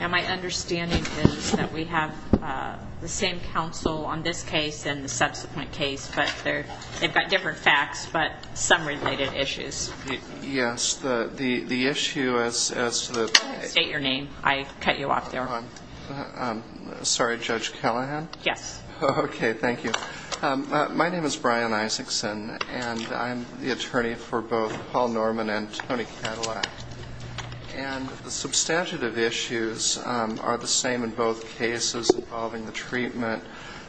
and my understanding is that we have the same counsel on this case and the subsequent case but they're they've got different facts but some related issues yes the the the issue as the state your name I cut you off there I'm sorry judge Callahan yes okay thank you my name is Brian Isaacson and I'm the attorney for both Paul Norman and Tony Cadillac and the substantive issues are the same in both cases involving the treatment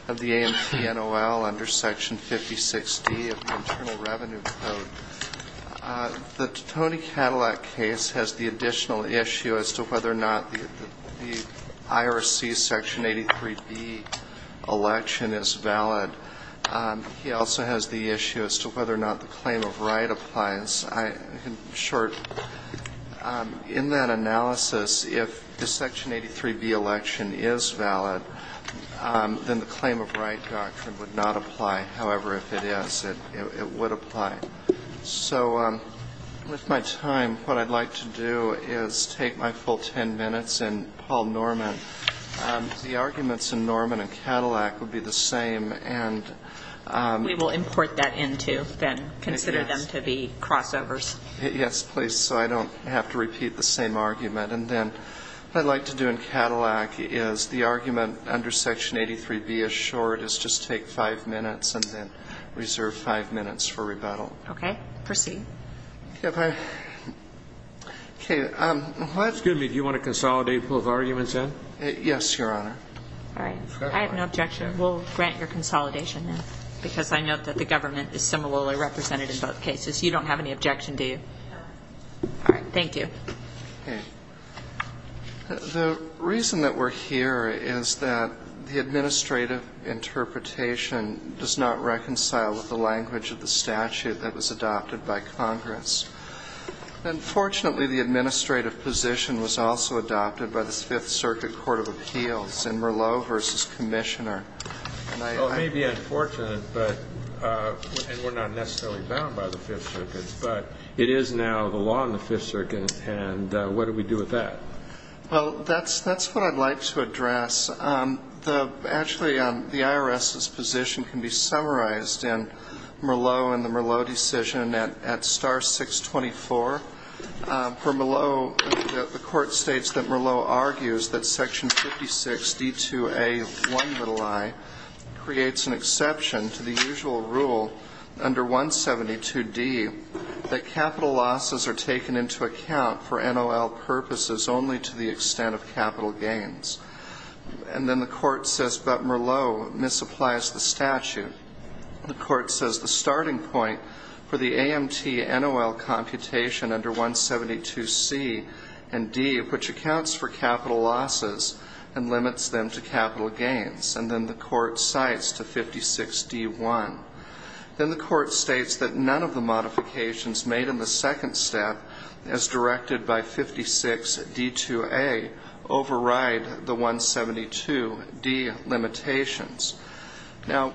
of the ANC NOL under section 5060 the Tony Cadillac case has the additional issue as to whether or not the IRC section 83 B election is valid he also has the issue as to whether or not the claim of right doctrine applies I in short in that analysis if the section 83 B election is valid then the claim of right doctrine would not apply however if it is it would apply so with my time what I'd like to do is take my full ten minutes and Paul Norman the arguments in Norman and Cadillac would be the same and we will import that into then consider them to be crossovers yes please so I don't have to repeat the same argument and then I'd like to do in Cadillac is the argument under section 83 be assured is just take five minutes and then reserve five minutes for rebuttal okay proceed okay um that's good me do you want to consolidate both arguments in yes your honor all right I have no objection we'll grant your consolidation because I know that the government is similarly represented in both cases you don't have any objection to you all right thank you the reason that we're here is that the administrative interpretation does not reconcile with the language of the statute that was adopted by Congress unfortunately the administrative position was also adopted by the Fifth maybe unfortunate but we're not necessarily bound by the Fifth Circuit but it is now the law in the Fifth Circuit and what do we do with that well that's that's what I'd like to address the actually on the IRS's position can be summarized in Merlot and the Merlot decision and at star 624 for D2A1 creates an exception to the usual rule under 172 D that capital losses are taken into account for NOL purposes only to the extent of capital gains and then the court says but Merlot misapplies the statute the court says the starting point for the AMT NOL computation under 172 C and D which accounts for capital losses and limits them to capital gains and then the court cites to 56 D1 then the court states that none of the modifications made in the second step as directed by 56 D2A override the 172 D limitations now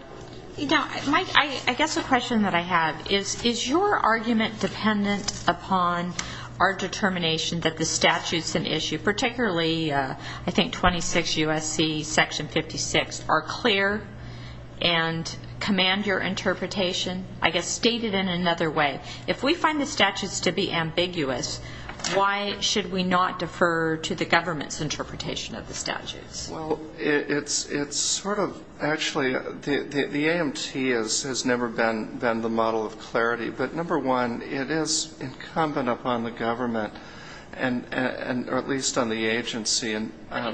you know Mike I guess a question that I have is is your argument dependent upon our determination that the statutes an issue particularly I think 26 USC section 56 are clear and command your interpretation I guess stated in another way if we find the statutes to be ambiguous why should we not defer to the government's interpretation of the statutes well it's it's sort of actually the the AMT is has never been been the model of clarity but number one it is incumbent upon the government and and or at least on the agency and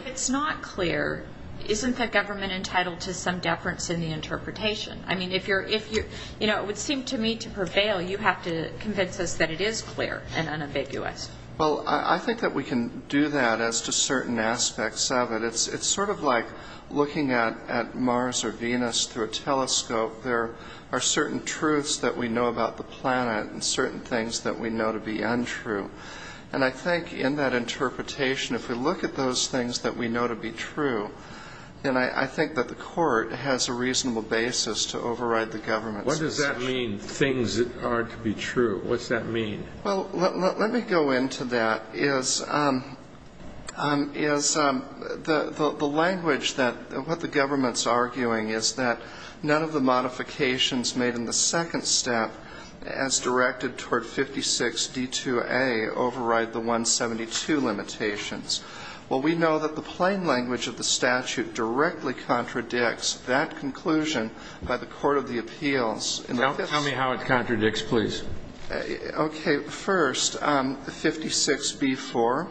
it's not clear isn't that government entitled to some deference in the interpretation I mean if you're if you you know it would seem to me to prevail you have to convince us that it is clear and unambiguous well I think that we can do that as to certain aspects of it it's it's sort of like looking at at Mars or Venus through a telescope there are certain truths that we know about the planet and certain things that we know to be untrue and I think in that interpretation if we look at those things that we know to be true and I think that the court has a reasonable basis to override the government what does that mean things are to be true what's that mean well let me go into that is is the the language that what the government's arguing is that none of the modifications made in the second step as directed toward 56 d2a override the 172 limitations well we know that the plain language of the statute directly contradicts that conclusion by the Court of the Appeals tell me how it contradicts please okay first the 56 before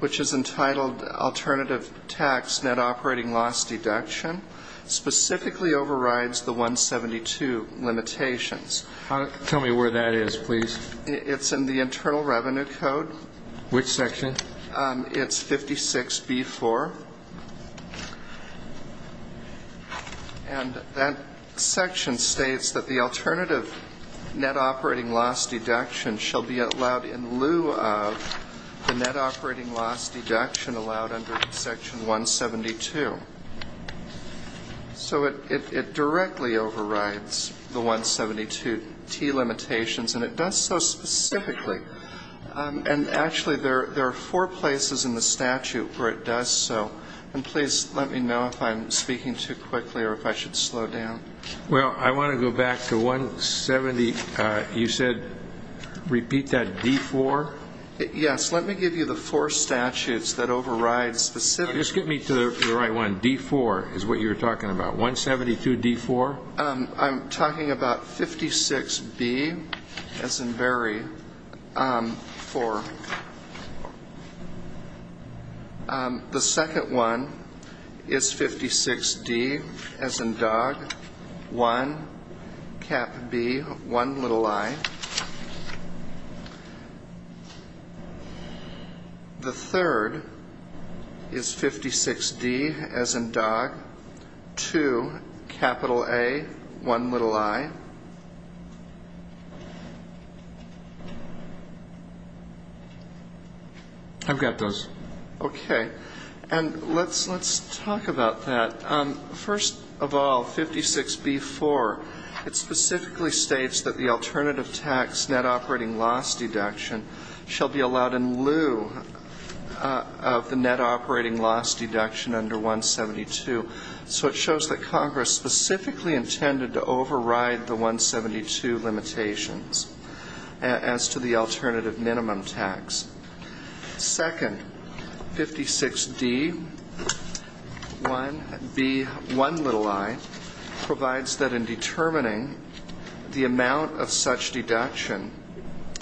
which is entitled alternative tax net operating loss deduction specifically overrides the 172 limitations how to tell me where that is please it's in the Internal Revenue Code which section it's 56 before and that section states that the alternative net operating loss deduction shall be allowed in lieu of the net operating loss deduction allowed under section 172 so it directly overrides the 172 T limitations and it does so specifically and actually there there are four places in the statute where it does so and please let me know if I'm speaking too quickly or if I should slow down well I yes let me give you the four statutes that override specific just get me to the right one d4 is what you're talking about 172 d4 I'm talking about 56 be as in very for the second one is 56 d as in dog one B one little I the third is I've got those okay and let's let's talk about that first of all 56 before it specifically states that the alternative tax net operating loss deduction shall be allowed in lieu of the net operating loss deduction under 172 so it shows that as to the alternative minimum tax second 56 D 1 B 1 little I provides that in determining the amount of such deduction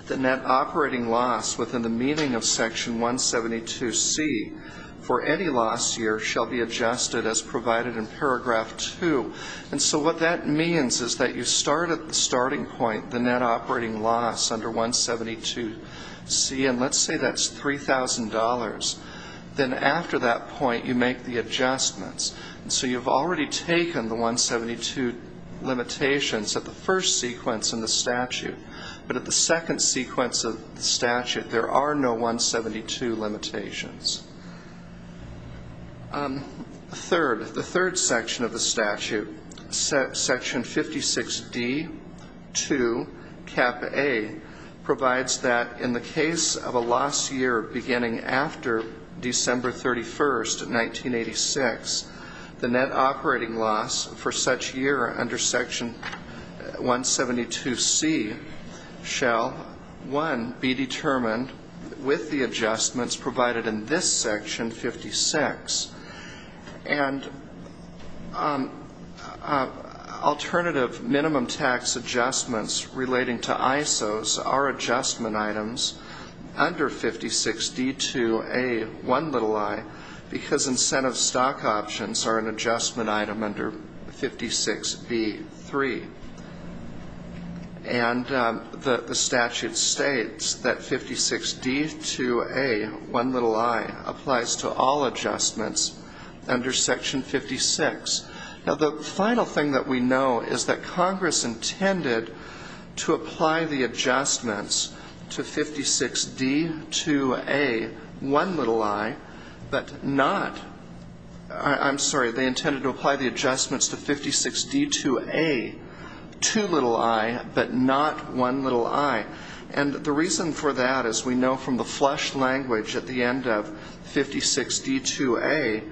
the net operating loss within the meaning of section 172 C for any loss year shall be adjusted as provided in paragraph 2 and so what that means is that you start at the starting point the net operating loss under 172 C and let's say that's $3,000 then after that point you make the adjustments so you've already taken the 172 limitations at the first sequence in the statute but at the second sequence of statute there are no 172 limitations third the third section of the statute set section 56 D to cap a provides that in the case of a loss year beginning after December 31st 1986 the net operating loss for such year under section 172 C shall one be determined with the adjustments provided in this section 56 and alternative minimum tax adjustments relating to ISOs are adjustment items under 56 D to a one little I because incentive stock options are an adjustment item under 56 B 3 and the statute states that 56 D to a one little I applies to all adjustments under section 56 now the final thing that we know is that Congress intended to apply the adjustments to 56 D to a one little I but not I'm sorry they one little I and the reason for that is we know from the flesh language at the end of 56 D to a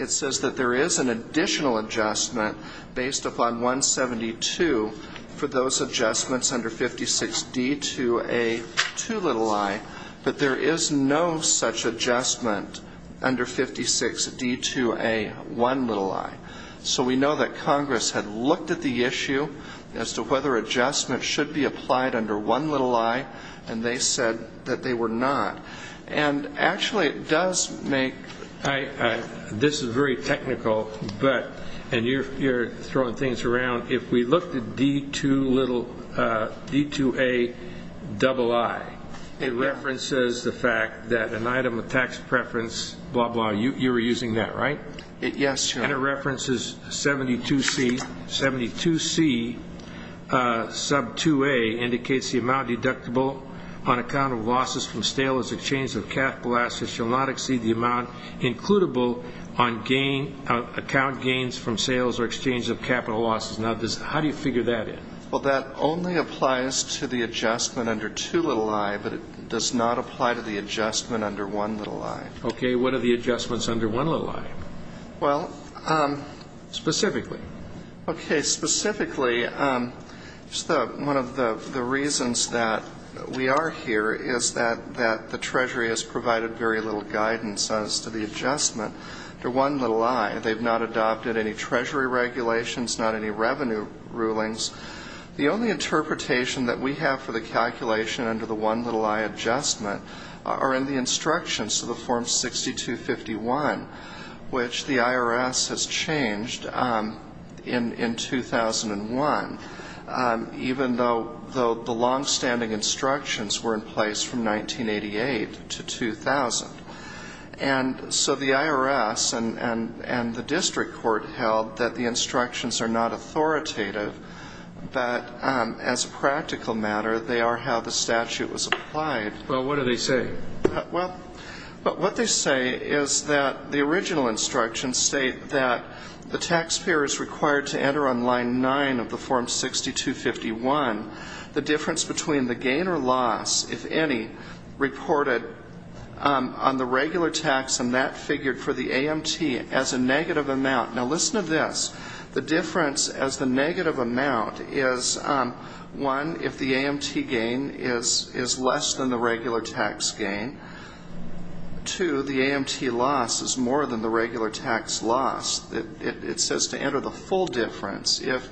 it says that there is an additional adjustment based upon 172 for those adjustments under 56 D to a two little I but there is no such adjustment under 56 D to a one little I so we know that Congress had looked at the issue as to whether adjustment should be applied under one little I and they said that they were not and actually it does make this is very technical but and you're you're throwing things around if we look to D to little D to a double I it references the fact that an item of tax preference blah blah you were using that right it yes and it references 72 C 72 C sub 2a indicates the amount deductible on account of losses from stale as exchange of capital assets shall not exceed the amount includable on gain account gains from sales or exchange of capital losses now this how do you figure that in well that only applies to the adjustment under two little I but it does not apply to the adjustment under one little I okay what are the adjustments under one little I well specifically okay specifically one of the reasons that we are here is that that the Treasury has provided very little guidance as to the adjustment to one little I they've not adopted any Treasury regulations not any revenue rulings the only interpretation that we have for the calculation under the one little I adjustment are in the instructions to the form 6251 which the IRS has changed in in 2001 even though though the long-standing instructions were in place from 1988 to 2000 and so the IRS and and and the district court held that the instructions are not authoritative but as a practical matter they are how the statute was applied well what do they say well but what they say is that the original instructions state that the taxpayer is required to enter on line 9 of the form 6251 the difference between the gain or loss if any reported on the regular tax and that figured for the AMT as a negative amount now listen to this the difference as the negative amount is one if the AMT gain is is less than the regular tax gain to the AMT loss is more than the regular tax loss that it says to enter the full difference if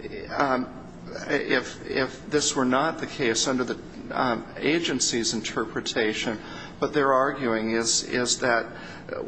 if if this were not the case under the agency's interpretation but they're arguing is is that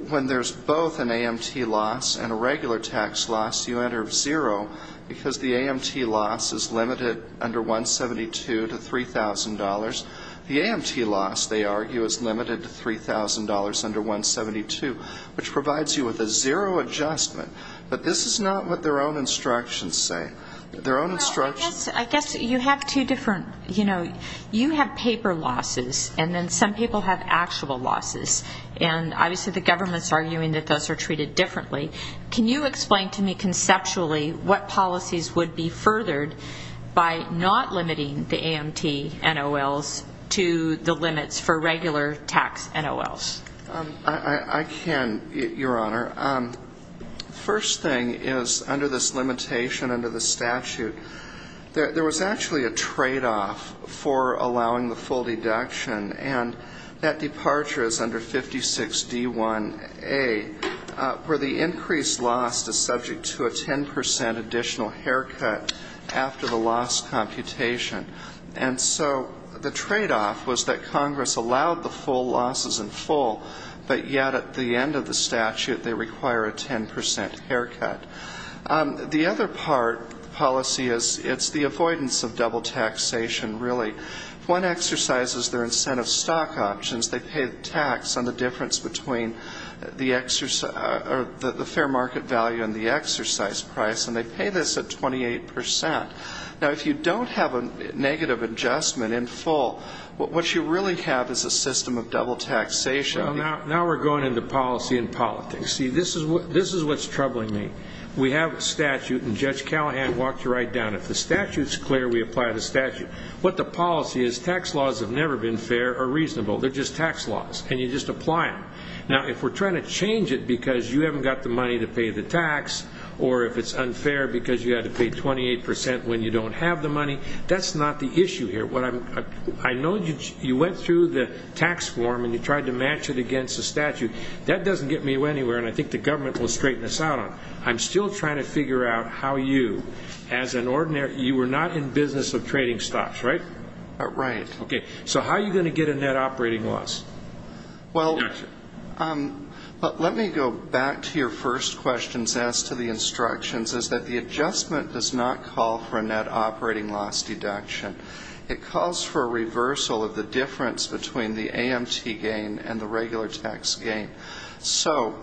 when there's both an AMT loss and a regular tax loss you enter zero because the AMT loss is limited under 172 to $3,000 the AMT loss they argue is limited to $3,000 under 172 which provides you with a zero adjustment but this is not what their own instructions say their own instructions I guess you have two different you know you have paper losses and then some people have actual losses and obviously the government's arguing that those are treated differently can you explain to me conceptually what policies would be furthered by not limiting the AMT NOLs to the limits for regular tax NOLs I can your honor first thing is under this limitation under the statute there was actually a trade-off for allowing the full deduction and that departure is under 56 d1 a where the increased lost is subject to a 10% additional haircut after the loss computation and so the trade-off was that Congress allowed the full losses in full but yet at the end of the statute they require a 10% haircut the other part policy is it's the avoidance of double taxation really one exercises their incentive stock options they pay the tax on the difference between the exercise or the fair market value and the exercise price and they pay this at 28% now if you don't have a negative adjustment in full what you really have is a system of double taxation now we're going into policy and see this is what this is what's troubling me we have a statute and judge Callahan walked right down if the statute is clear we apply the statute what the policy is tax laws have never been fair or reasonable they're just tax laws and you just apply them now if we're trying to change it because you haven't got the money to pay the tax or if it's unfair because you had to pay 28% when you don't have the money that's not the issue here what I'm I know you went through the tax form and you tried to match it against the statute that doesn't get me anywhere and I think the government will straighten this out on I'm still trying to figure out how you as an ordinary you were not in business of trading stocks right right okay so how are you going to get a net operating loss well let me go back to your first questions as to the instructions is that the adjustment does not call for a net operating loss deduction it calls for a so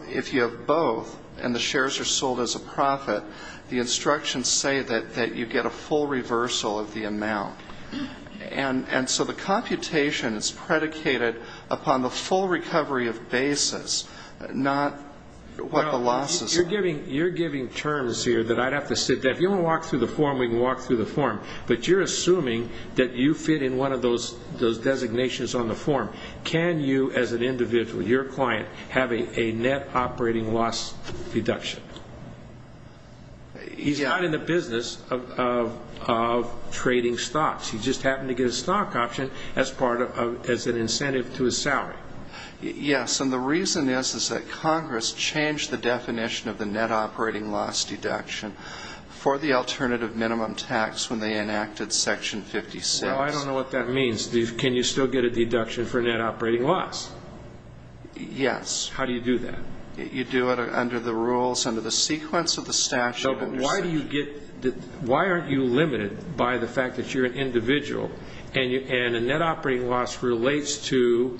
if you have both and the shares are sold as a profit the instructions say that that you get a full reversal of the amount and and so the computation is predicated upon the full recovery of basis not what the losses you're giving you're giving terms here that I'd have to sit down you don't walk through the form we can walk through the form but you're assuming that you fit in one of those those designations on the form can you as an individual your client having a net operating loss deduction he's not in the business of trading stocks he just happened to get a stock option as part of as an incentive to a salary yes and the reason is is that Congress changed the definition of the net operating loss deduction for the alternative minimum tax when they enacted section 56 I don't know what that means these can you still get a yes how do you do that you do it under the rules under the sequence of the statute why do you get that why aren't you limited by the fact that you're an individual and you can a net operating loss relates to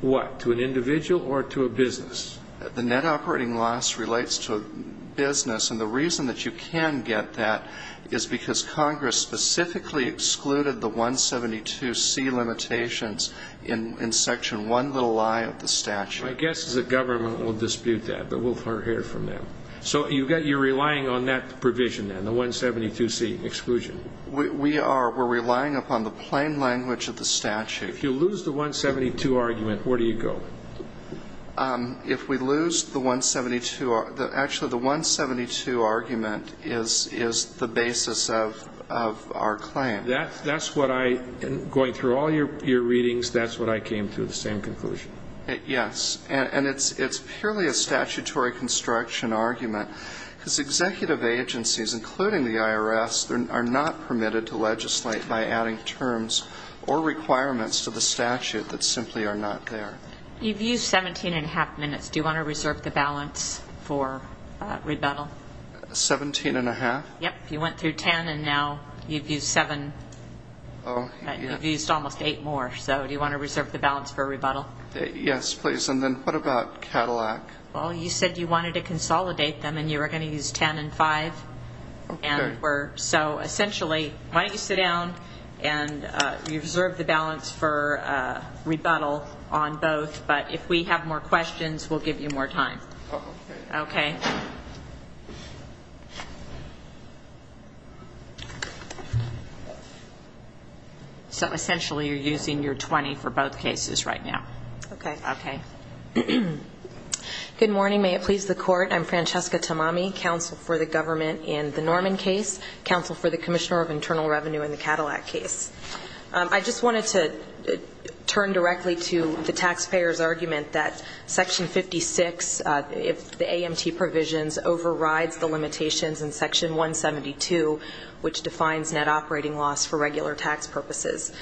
what to an individual or to a business the net operating loss relates to a business and the reason that you can get that is because Congress specifically excluded the 172 limitations in in section one little lie of the statute I guess is that government will dispute that but we'll hear from them so you've got you're relying on that provision and the 172 C exclusion we are we're relying upon the plain language of the statute you lose the 172 argument where do you go if we lose the 172 are that actually the 172 argument is is the basis of our claim that's that's what I going through all your your readings that's what I came through the same conclusion yes and it's it's purely a statutory construction argument because executive agencies including the IRS are not permitted to legislate by adding terms or requirements to the statute that simply are not there you've used seventeen and a half minutes do you want to reserve the balance for rebuttal seventeen and a half yep you went through ten and now you've used seven oh you've used almost eight more so do you want to reserve the balance for a rebuttal yes please and then what about Cadillac well you said you wanted to consolidate them and you were going to use ten and five and we're so essentially why don't you sit down and you reserve the balance for rebuttal on both but if we have more questions we'll give you more time okay so essentially you're using your 20 for both cases right now okay okay good morning may it please the court I'm Francesca Tamami counsel for the government in the Norman case counsel for the Commissioner of Internal Revenue in the Cadillac case I just wanted to turn directly to the taxpayers argument that section 56 if the AMT provisions overrides the limitations in section 172 which defines net operating loss for regular tax purposes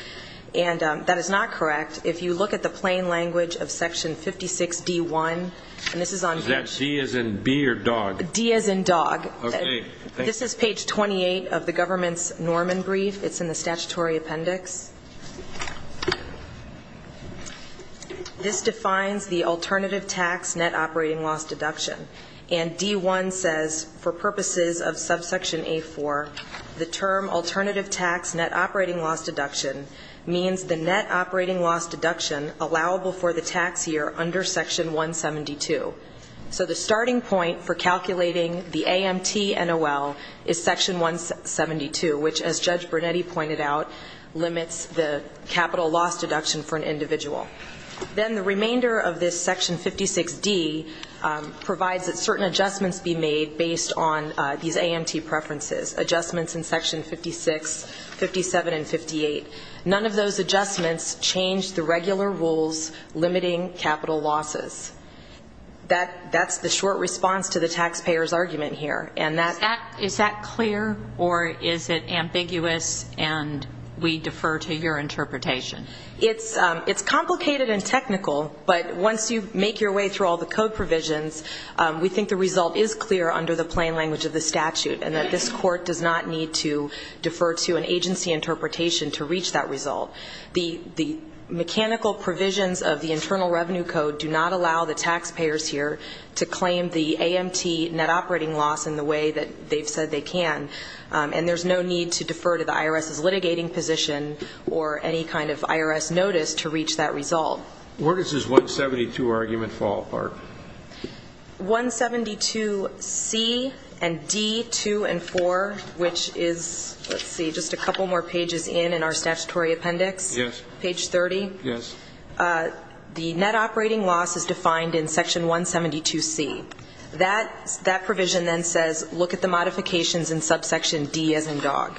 and that is not correct if you look at the plain language of section 56 d1 and this is on that C as in beer dog D as in dog okay this is page 28 of the government's Norman brief it's in the statutory appendix this defines the alternative tax net operating loss deduction and d1 says for purposes of subsection a4 the term alternative tax net operating loss deduction means the net operating loss deduction allowable for the tax year under section 172 so the starting point for calculating the AMT and a well is section 172 which as judge Burnett he pointed out limits the capital loss deduction for an individual then the remainder of this section 56 D provides that certain adjustments be made based on these AMT preferences adjustments in section 56 57 and 58 none of those adjustments change the regular rules limiting capital losses that that's the short response to the taxpayers argument here and that is that clear or is it ambiguous and we defer to your interpretation it's it's complicated and technical but once you make your way through all the code provisions we think the result is clear under the plain language of the statute and that this court does not need to defer to an agency interpretation to reach that result the the mechanical provisions of the Internal Revenue Code do not allow the taxpayers here to claim the AMT net operating loss in the way that they've said they can and there's no need to defer to the IRS is litigating position or any kind of IRS notice to reach that result where does this 172 argument fall apart 172 C and D 2 & 4 which is let's see just a couple more pages in in our statutory appendix yes page 30 yes the net operating loss is defined in section 172 C that that provision then says look at the modifications in subsection D as in dog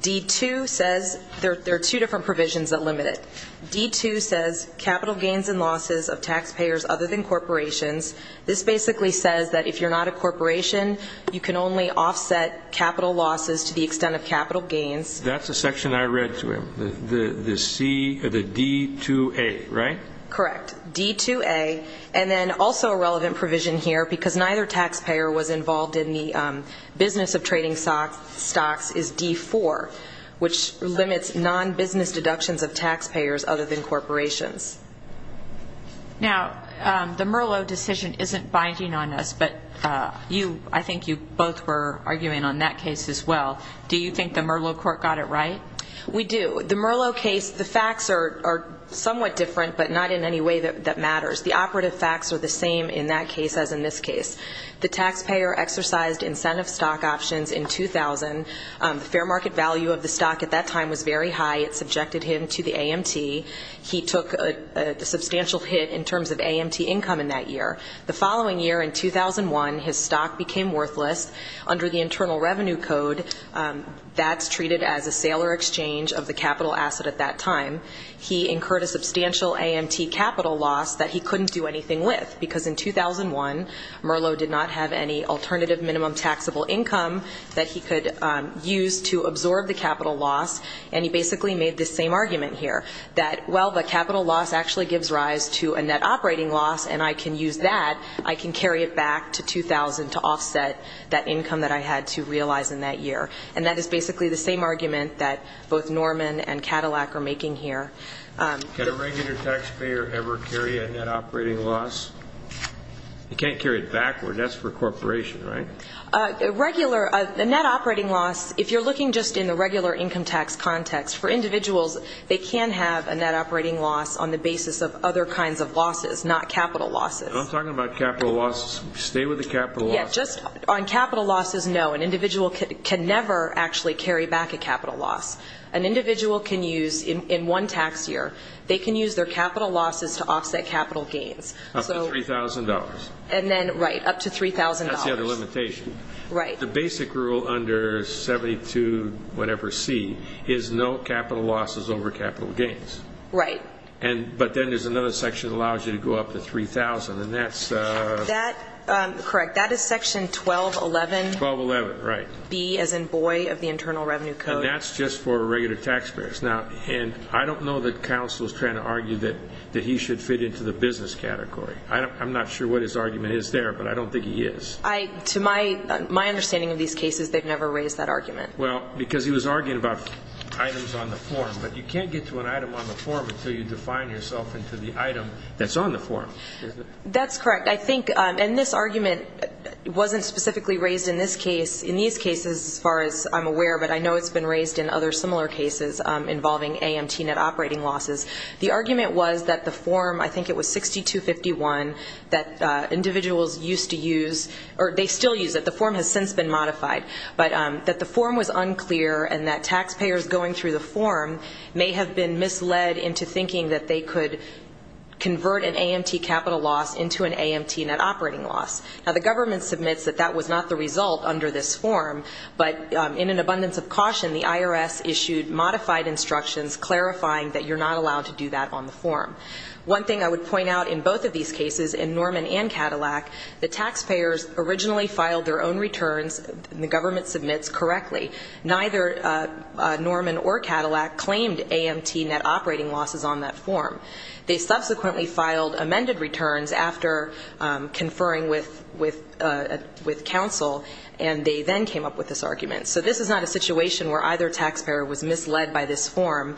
d2 says there are two different provisions that limit it d2 says capital gains and losses of taxpayers other than corporations this basically says that if you're not a corporation you can only offset capital losses to the extent of capital gains that's a section I read to him the the C the D to a right correct d2 a and then also a relevant provision here because neither taxpayer was involved in the business of trading socks stocks is d4 which limits non-business deductions of taxpayers other than corporations now the merlot decision isn't binding on us but you I think you both were arguing on that case as well do you think the merlot court got it right we do the merlot case the facts are somewhat different but not in any way that matters the operative facts are the same in that case as in this case the of the stock at that time was very high it subjected him to the AMT he took a substantial hit in terms of AMT income in that year the following year in 2001 his stock became worthless under the Internal Revenue Code that's treated as a sailor exchange of the capital asset at that time he incurred a substantial AMT capital loss that he couldn't do anything with because in 2001 Merlot did not have any alternative minimum taxable income that he could use to absorb the capital loss and he basically made the same argument here that well the capital loss actually gives rise to a net operating loss and I can use that I can carry it back to 2000 to offset that income that I had to realize in that year and that is basically the same argument that both Norman and Cadillac are making here get a regular taxpayer ever carry a net operating loss you can't carry it backward that's for corporation right a regular a net operating loss if you're looking just in the regular income tax context for individuals they can have a net operating loss on the basis of other kinds of losses not capital losses I'm talking about capital loss stay with the capital yet just on capital losses no an individual can never actually carry back a capital loss an individual can use in one tax year they can use their capital losses to offset capital gains so $3,000 and then right up to $3,000 right the basic rule under 72 whatever C is no capital losses over capital gains right and but then there's another section allows you to go up to 3,000 and that's that correct that is section 12 11 12 11 right B as in boy of the internal revenue code that's just for regular taxpayers now and I don't know that counsel is trying to argue that that he should fit into the business category I'm not sure what his argument is there but I don't think he is I to my my understanding of these cases they've never raised that argument well because he was arguing about items on the form but you can't get to an item on the form until you define yourself into the item that's on the form that's correct I think and this argument wasn't specifically raised in this case in these cases as far as I'm aware but I know it's been raised in other similar cases involving AMT net operating losses the argument was that the form I think it was 6251 that individuals used to use or they still use that the form has since been modified but that the form was unclear and that taxpayers going through the form may have been misled into thinking that they could convert an AMT capital loss into an AMT net operating loss now the government submits that that was not the result under this form but in an abundance of caution the IRS issued modified instructions clarifying that you're not point out in both of these cases in Norman and Cadillac the taxpayers originally filed their own returns the government submits correctly neither Norman or Cadillac claimed AMT net operating losses on that form they subsequently filed amended returns after conferring with with with counsel and they then came up with this argument so this is not a situation where either taxpayer was misled by this form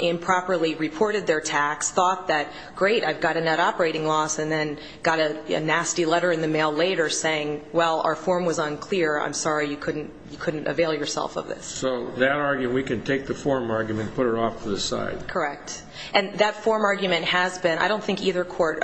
improperly reported their tax thought that great I've got a net operating loss and then got a nasty letter in the mail later saying well our form was unclear I'm sorry you couldn't you couldn't avail yourself of this so that argue we can take the form argument put it off to the side correct and that form argument has been I don't think either court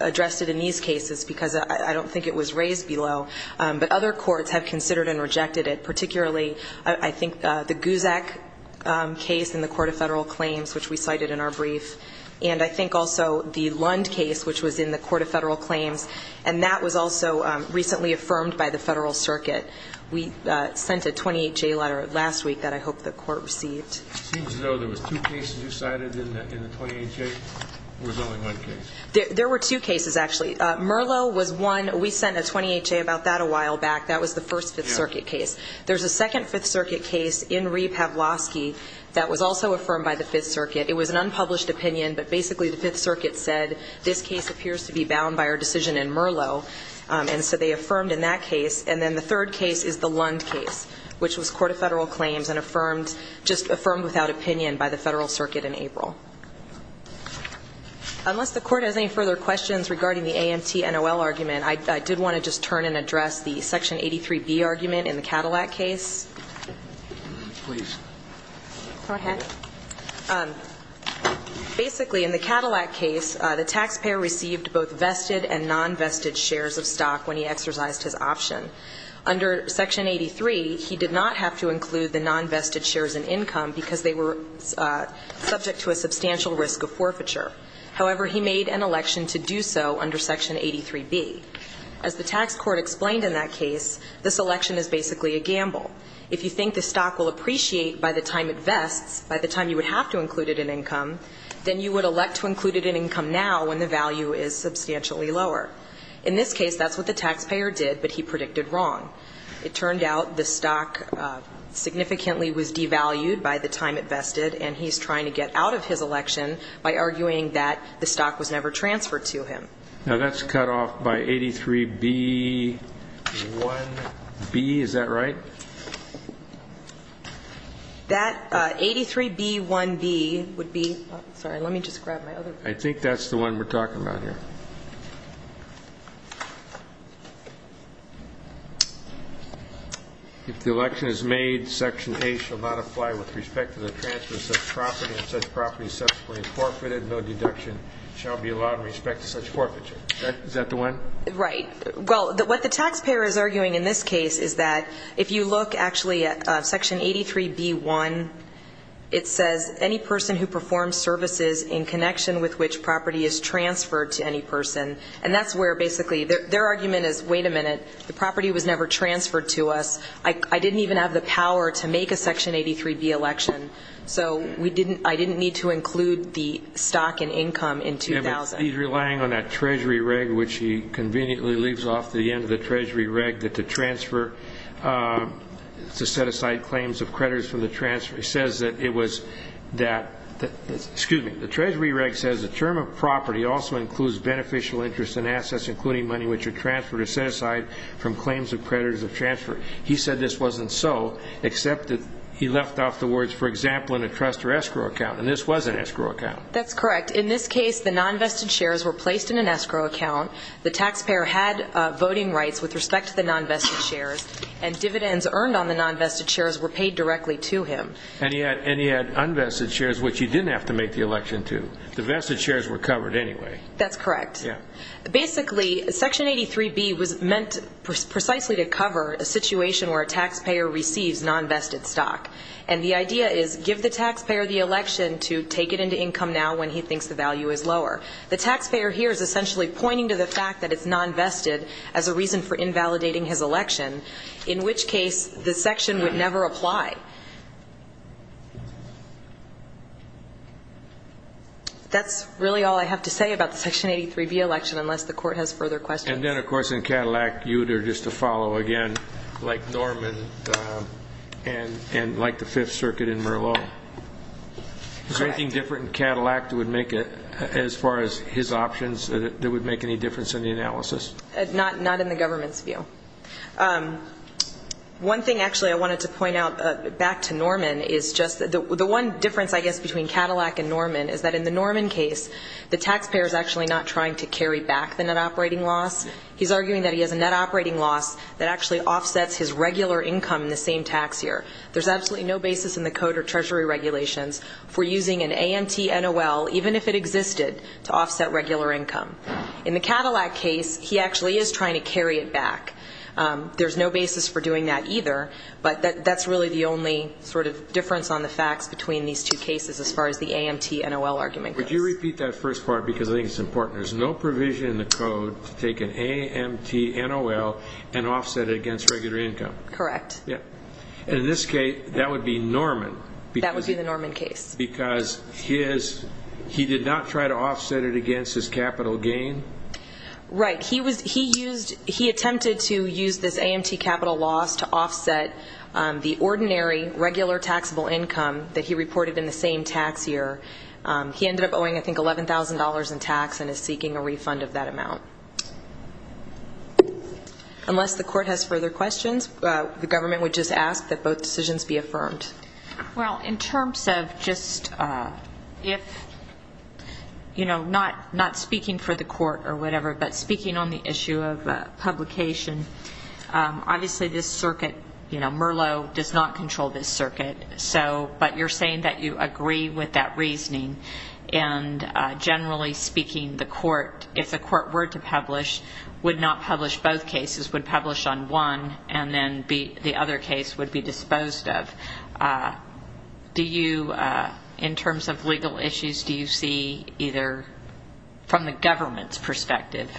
addressed it in these cases because I don't think it was raised below but other courts have considered and rejected it particularly I think the Guzak case in the Court of Federal Claims which we cited in our brief and I think also the Lund case which was in the Court of Federal Claims and that was also recently affirmed by the Federal Circuit we sent a 28 J letter last week that I hope the court received there were two cases actually Merlo was one we sent a 28 J about that a while back that was the first Fifth Circuit case there's a second Fifth Circuit case in re Pavlovsky that was also affirmed by the Fifth Circuit said this case appears to be bound by our decision in Merlo and so they affirmed in that case and then the third case is the Lund case which was Court of Federal Claims and affirmed just affirmed without opinion by the Federal Circuit in April unless the court has any further questions regarding the AMT NOL argument I did want to just turn and address the section the taxpayer received both vested and non-vested shares of stock when he exercised his option under section 83 he did not have to include the non-vested shares in income because they were subject to a substantial risk of forfeiture however he made an election to do so under section 83 B as the tax court explained in that case this election is basically a gamble if you think the stock will appreciate by the time it vests by the time you would have to include it in income then you would elect to include it in income now when the value is substantially lower in this case that's what the taxpayer did but he predicted wrong it turned out the stock significantly was devalued by the time it vested and he's trying to get out of his election by arguing that the stock was never transferred to him now that's cut off by 83 B 1 B is that right that 83 B 1 B would be sorry let me just grab my other I think that's the one we're talking about here if the election is made section a shall not apply with respect to the transfers of property and such property subsequently forfeited no deduction shall be allowed in respect to such forfeiture is that the one right well what the taxpayer is arguing in this case is that if you look actually at section 83 B 1 it says any person who performs services in connection with which property is transferred to any person and that's where basically their argument is wait a minute the property was never transferred to us I didn't even have the power to make a section 83 B election so we didn't I didn't need to include the stock and income in 2000 relying on that Treasury reg which he conveniently leaves off the end of the Treasury reg that the transfer to set aside claims of creditors from the transfer he says that it was that that excuse me the Treasury reg says the term of property also includes beneficial interest in assets including money which are transferred to set aside from claims of creditors of transfer he said this wasn't so except that he left off the words for example in a trust or escrow account and this was an escrow account that's correct in this case the non-vested shares were placed in an escrow account the taxpayer had voting rights with respect to the non-vested shares and dividends earned on the non-vested shares were paid directly to him and he had and he had unvested shares which he didn't have to make the election to the vested shares were covered anyway that's correct yeah basically section 83 B was meant precisely to cover a situation where a taxpayer receives non-vested stock and the idea is give the taxpayer the election to take it into income now when he thinks the value is lower the taxpayer here is essentially pointing to the fact that it's non-vested as a reason for invalidating his election in which case this section would never apply that's really all I have to say about the section 83 B election unless the court has further questions and then of course in Cadillac you there just to follow again like Norman and and like the Fifth Circuit in Merlot anything different Cadillac that would make it as far as his options that would make any difference in the analysis not not in the government's view one thing actually I wanted to point out back to Norman is just the one difference I guess between Cadillac and Norman is that in the Norman case the taxpayer is actually not trying to carry back the net operating loss he's arguing that he has a net operating loss that actually offsets his regular income in the same tax here there's absolutely no basis in the code or Treasury regulations for using an AMT NOL even if it existed to offset regular income in the Cadillac case he actually is trying to carry it back there's no basis for doing that either but that that's really the only sort of difference on the facts between these two cases as far as the AMT NOL argument would you repeat that first part because I think it's important there's no provision in the code to take an AMT NOL and offset it against regular income correct yeah in this case that would be Norman because that would be the Norman case because his he did not try to offset it against his capital gain right he was he used he attempted to use this AMT capital loss to offset the ordinary regular taxable income that he reported in the same tax year he ended up owing I think $11,000 in tax and is unless the court has further questions the government would just ask that both decisions be affirmed well in terms of just if you know not not speaking for the court or whatever but speaking on the issue of publication obviously this circuit you know Merlot does not control this circuit so but you're saying that you agree with that reasoning and generally speaking the court if the would not publish both cases would publish on one and then be the other case would be disposed of do you in terms of legal issues do you see either from the government's perspective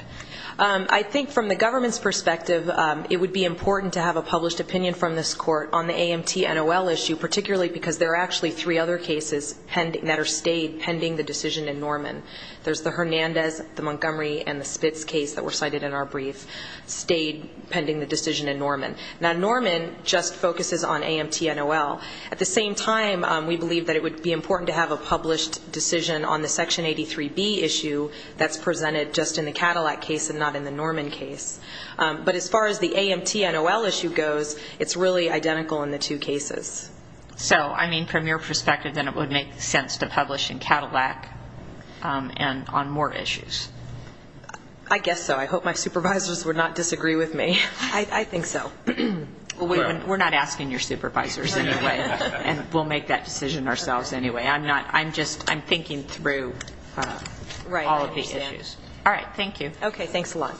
I think from the government's perspective it would be important to have a published opinion from this court on the AMT NOL issue particularly because there are actually three other cases pending that are stayed pending the decision in Norman there's the Hernandez the Spitz case that were cited in our brief stayed pending the decision in Norman now Norman just focuses on AMT NOL at the same time we believe that it would be important to have a published decision on the section 83 B issue that's presented just in the Cadillac case and not in the Norman case but as far as the AMT NOL issue goes it's really identical in the two cases so I mean from your perspective then it would make sense to publish in Cadillac and on more issues I guess so I hope my supervisors would not disagree with me I think so we're not asking your supervisors anyway and we'll make that decision ourselves anyway I'm not I'm just I'm thinking through right all of these issues all right thank you okay thanks a lot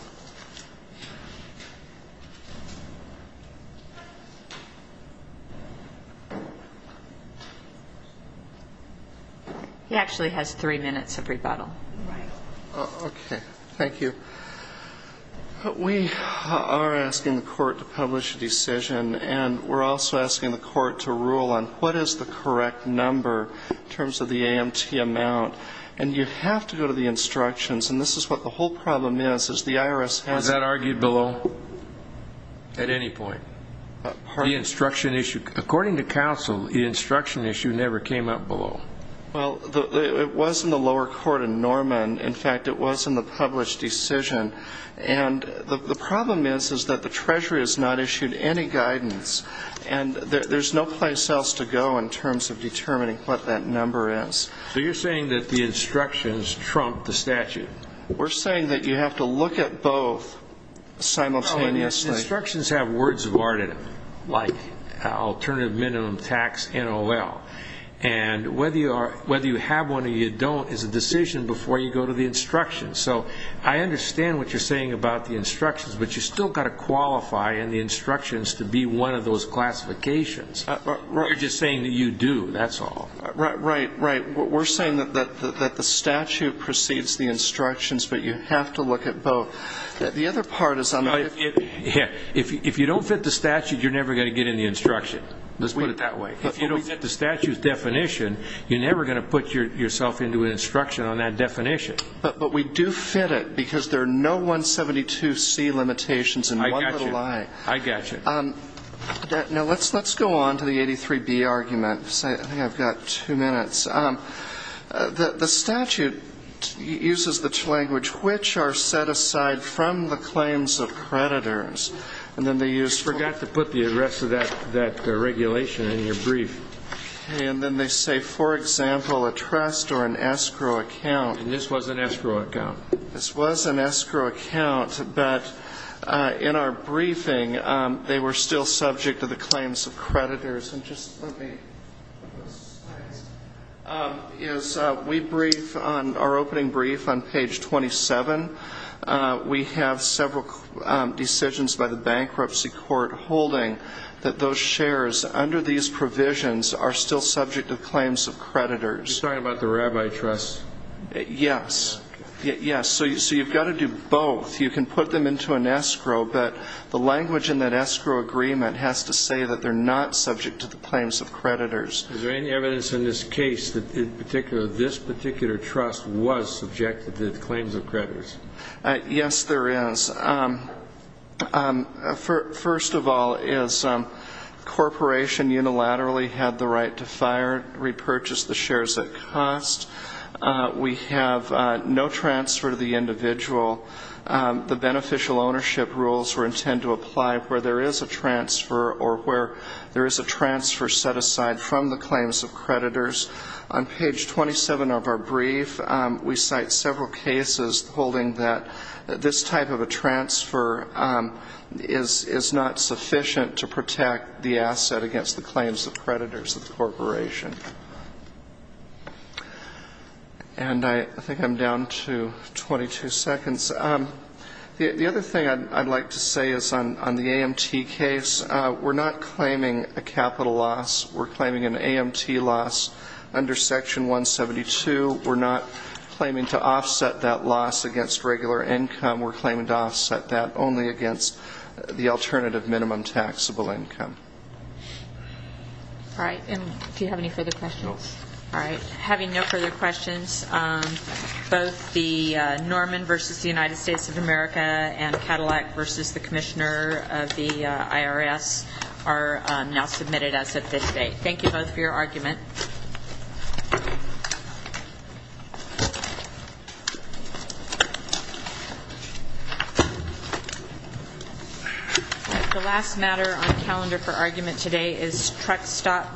he actually has three minutes of rebuttal okay thank you but we are asking the court to publish a decision and we're also asking the court to rule on what is the correct number in terms of the AMT amount and you have to go to the instructions and this is what the whole problem is is the IRS has that argued below at any point the instruction issue according to counsel the instruction issue never came up below well it was in the lower court in Norman in fact it was in the published decision and the problem is is that the Treasury has not issued any guidance and there's no place else to go in terms of determining what that number is so you're saying that the instructions trumped the statute we're saying that you have to look at both simultaneous instructions have words of art in it like alternative minimum tax NOL and whether you are whether you have one or you don't is a decision before you go to the instructions so I understand what you're saying about the instructions but you still got to qualify and the instructions to be one of those classifications you're just saying that you do that's all right right right we're saying that the statute precedes the instructions but you have to look at both that the other part is on it yeah if you don't fit the statute you're never going to get in the instruction let's put it that way if you don't get the statutes definition you're never going to put your yourself into an instruction on that definition but but we do fit it because there are no 172 C limitations and I got you I got you um no let's let's go on to the 83 B argument say I've got two minutes the statute uses the language which are set aside from the claims of creditors and then they use forgot to put the address of that that regulation in your brief and then they say for example a trust or an escrow account and this was an escrow account this was an escrow account but in our briefing they were still subject to the claims of creditors and just let me is we brief on our opening brief on page 27 we have several decisions by the bankruptcy court holding that those shares under these provisions are still subject to claims of creditors sorry about the rabbi trust yes yes so you so you've got to do both you can put them into an escrow but the language in that agreement has to say that they're not subject to the claims of creditors is there any evidence in this case that in particular this particular trust was subjected to the claims of creditors yes there is first of all is corporation unilaterally had the right to fire repurchase the shares that cost we have no transfer to the individual the beneficial ownership rules were intend to apply where there is a transfer or where there is a transfer set aside from the claims of creditors on page 27 of our brief we cite several cases holding that this type of a transfer is is not sufficient to protect the asset against the claims of creditors of the corporation and I think I'm down to 22 seconds the other thing I'd like to say is on the AMT case we're not claiming a capital loss we're claiming an AMT loss under section 172 we're not claiming to offset that loss against regular income we're claiming to offset that only against the alternative minimum taxable income all right and do you have any America and Cadillac versus the Commissioner of the IRS are now submitted as of this date thank you both for your argument the last matter on the calendar for argument today is truck stop versus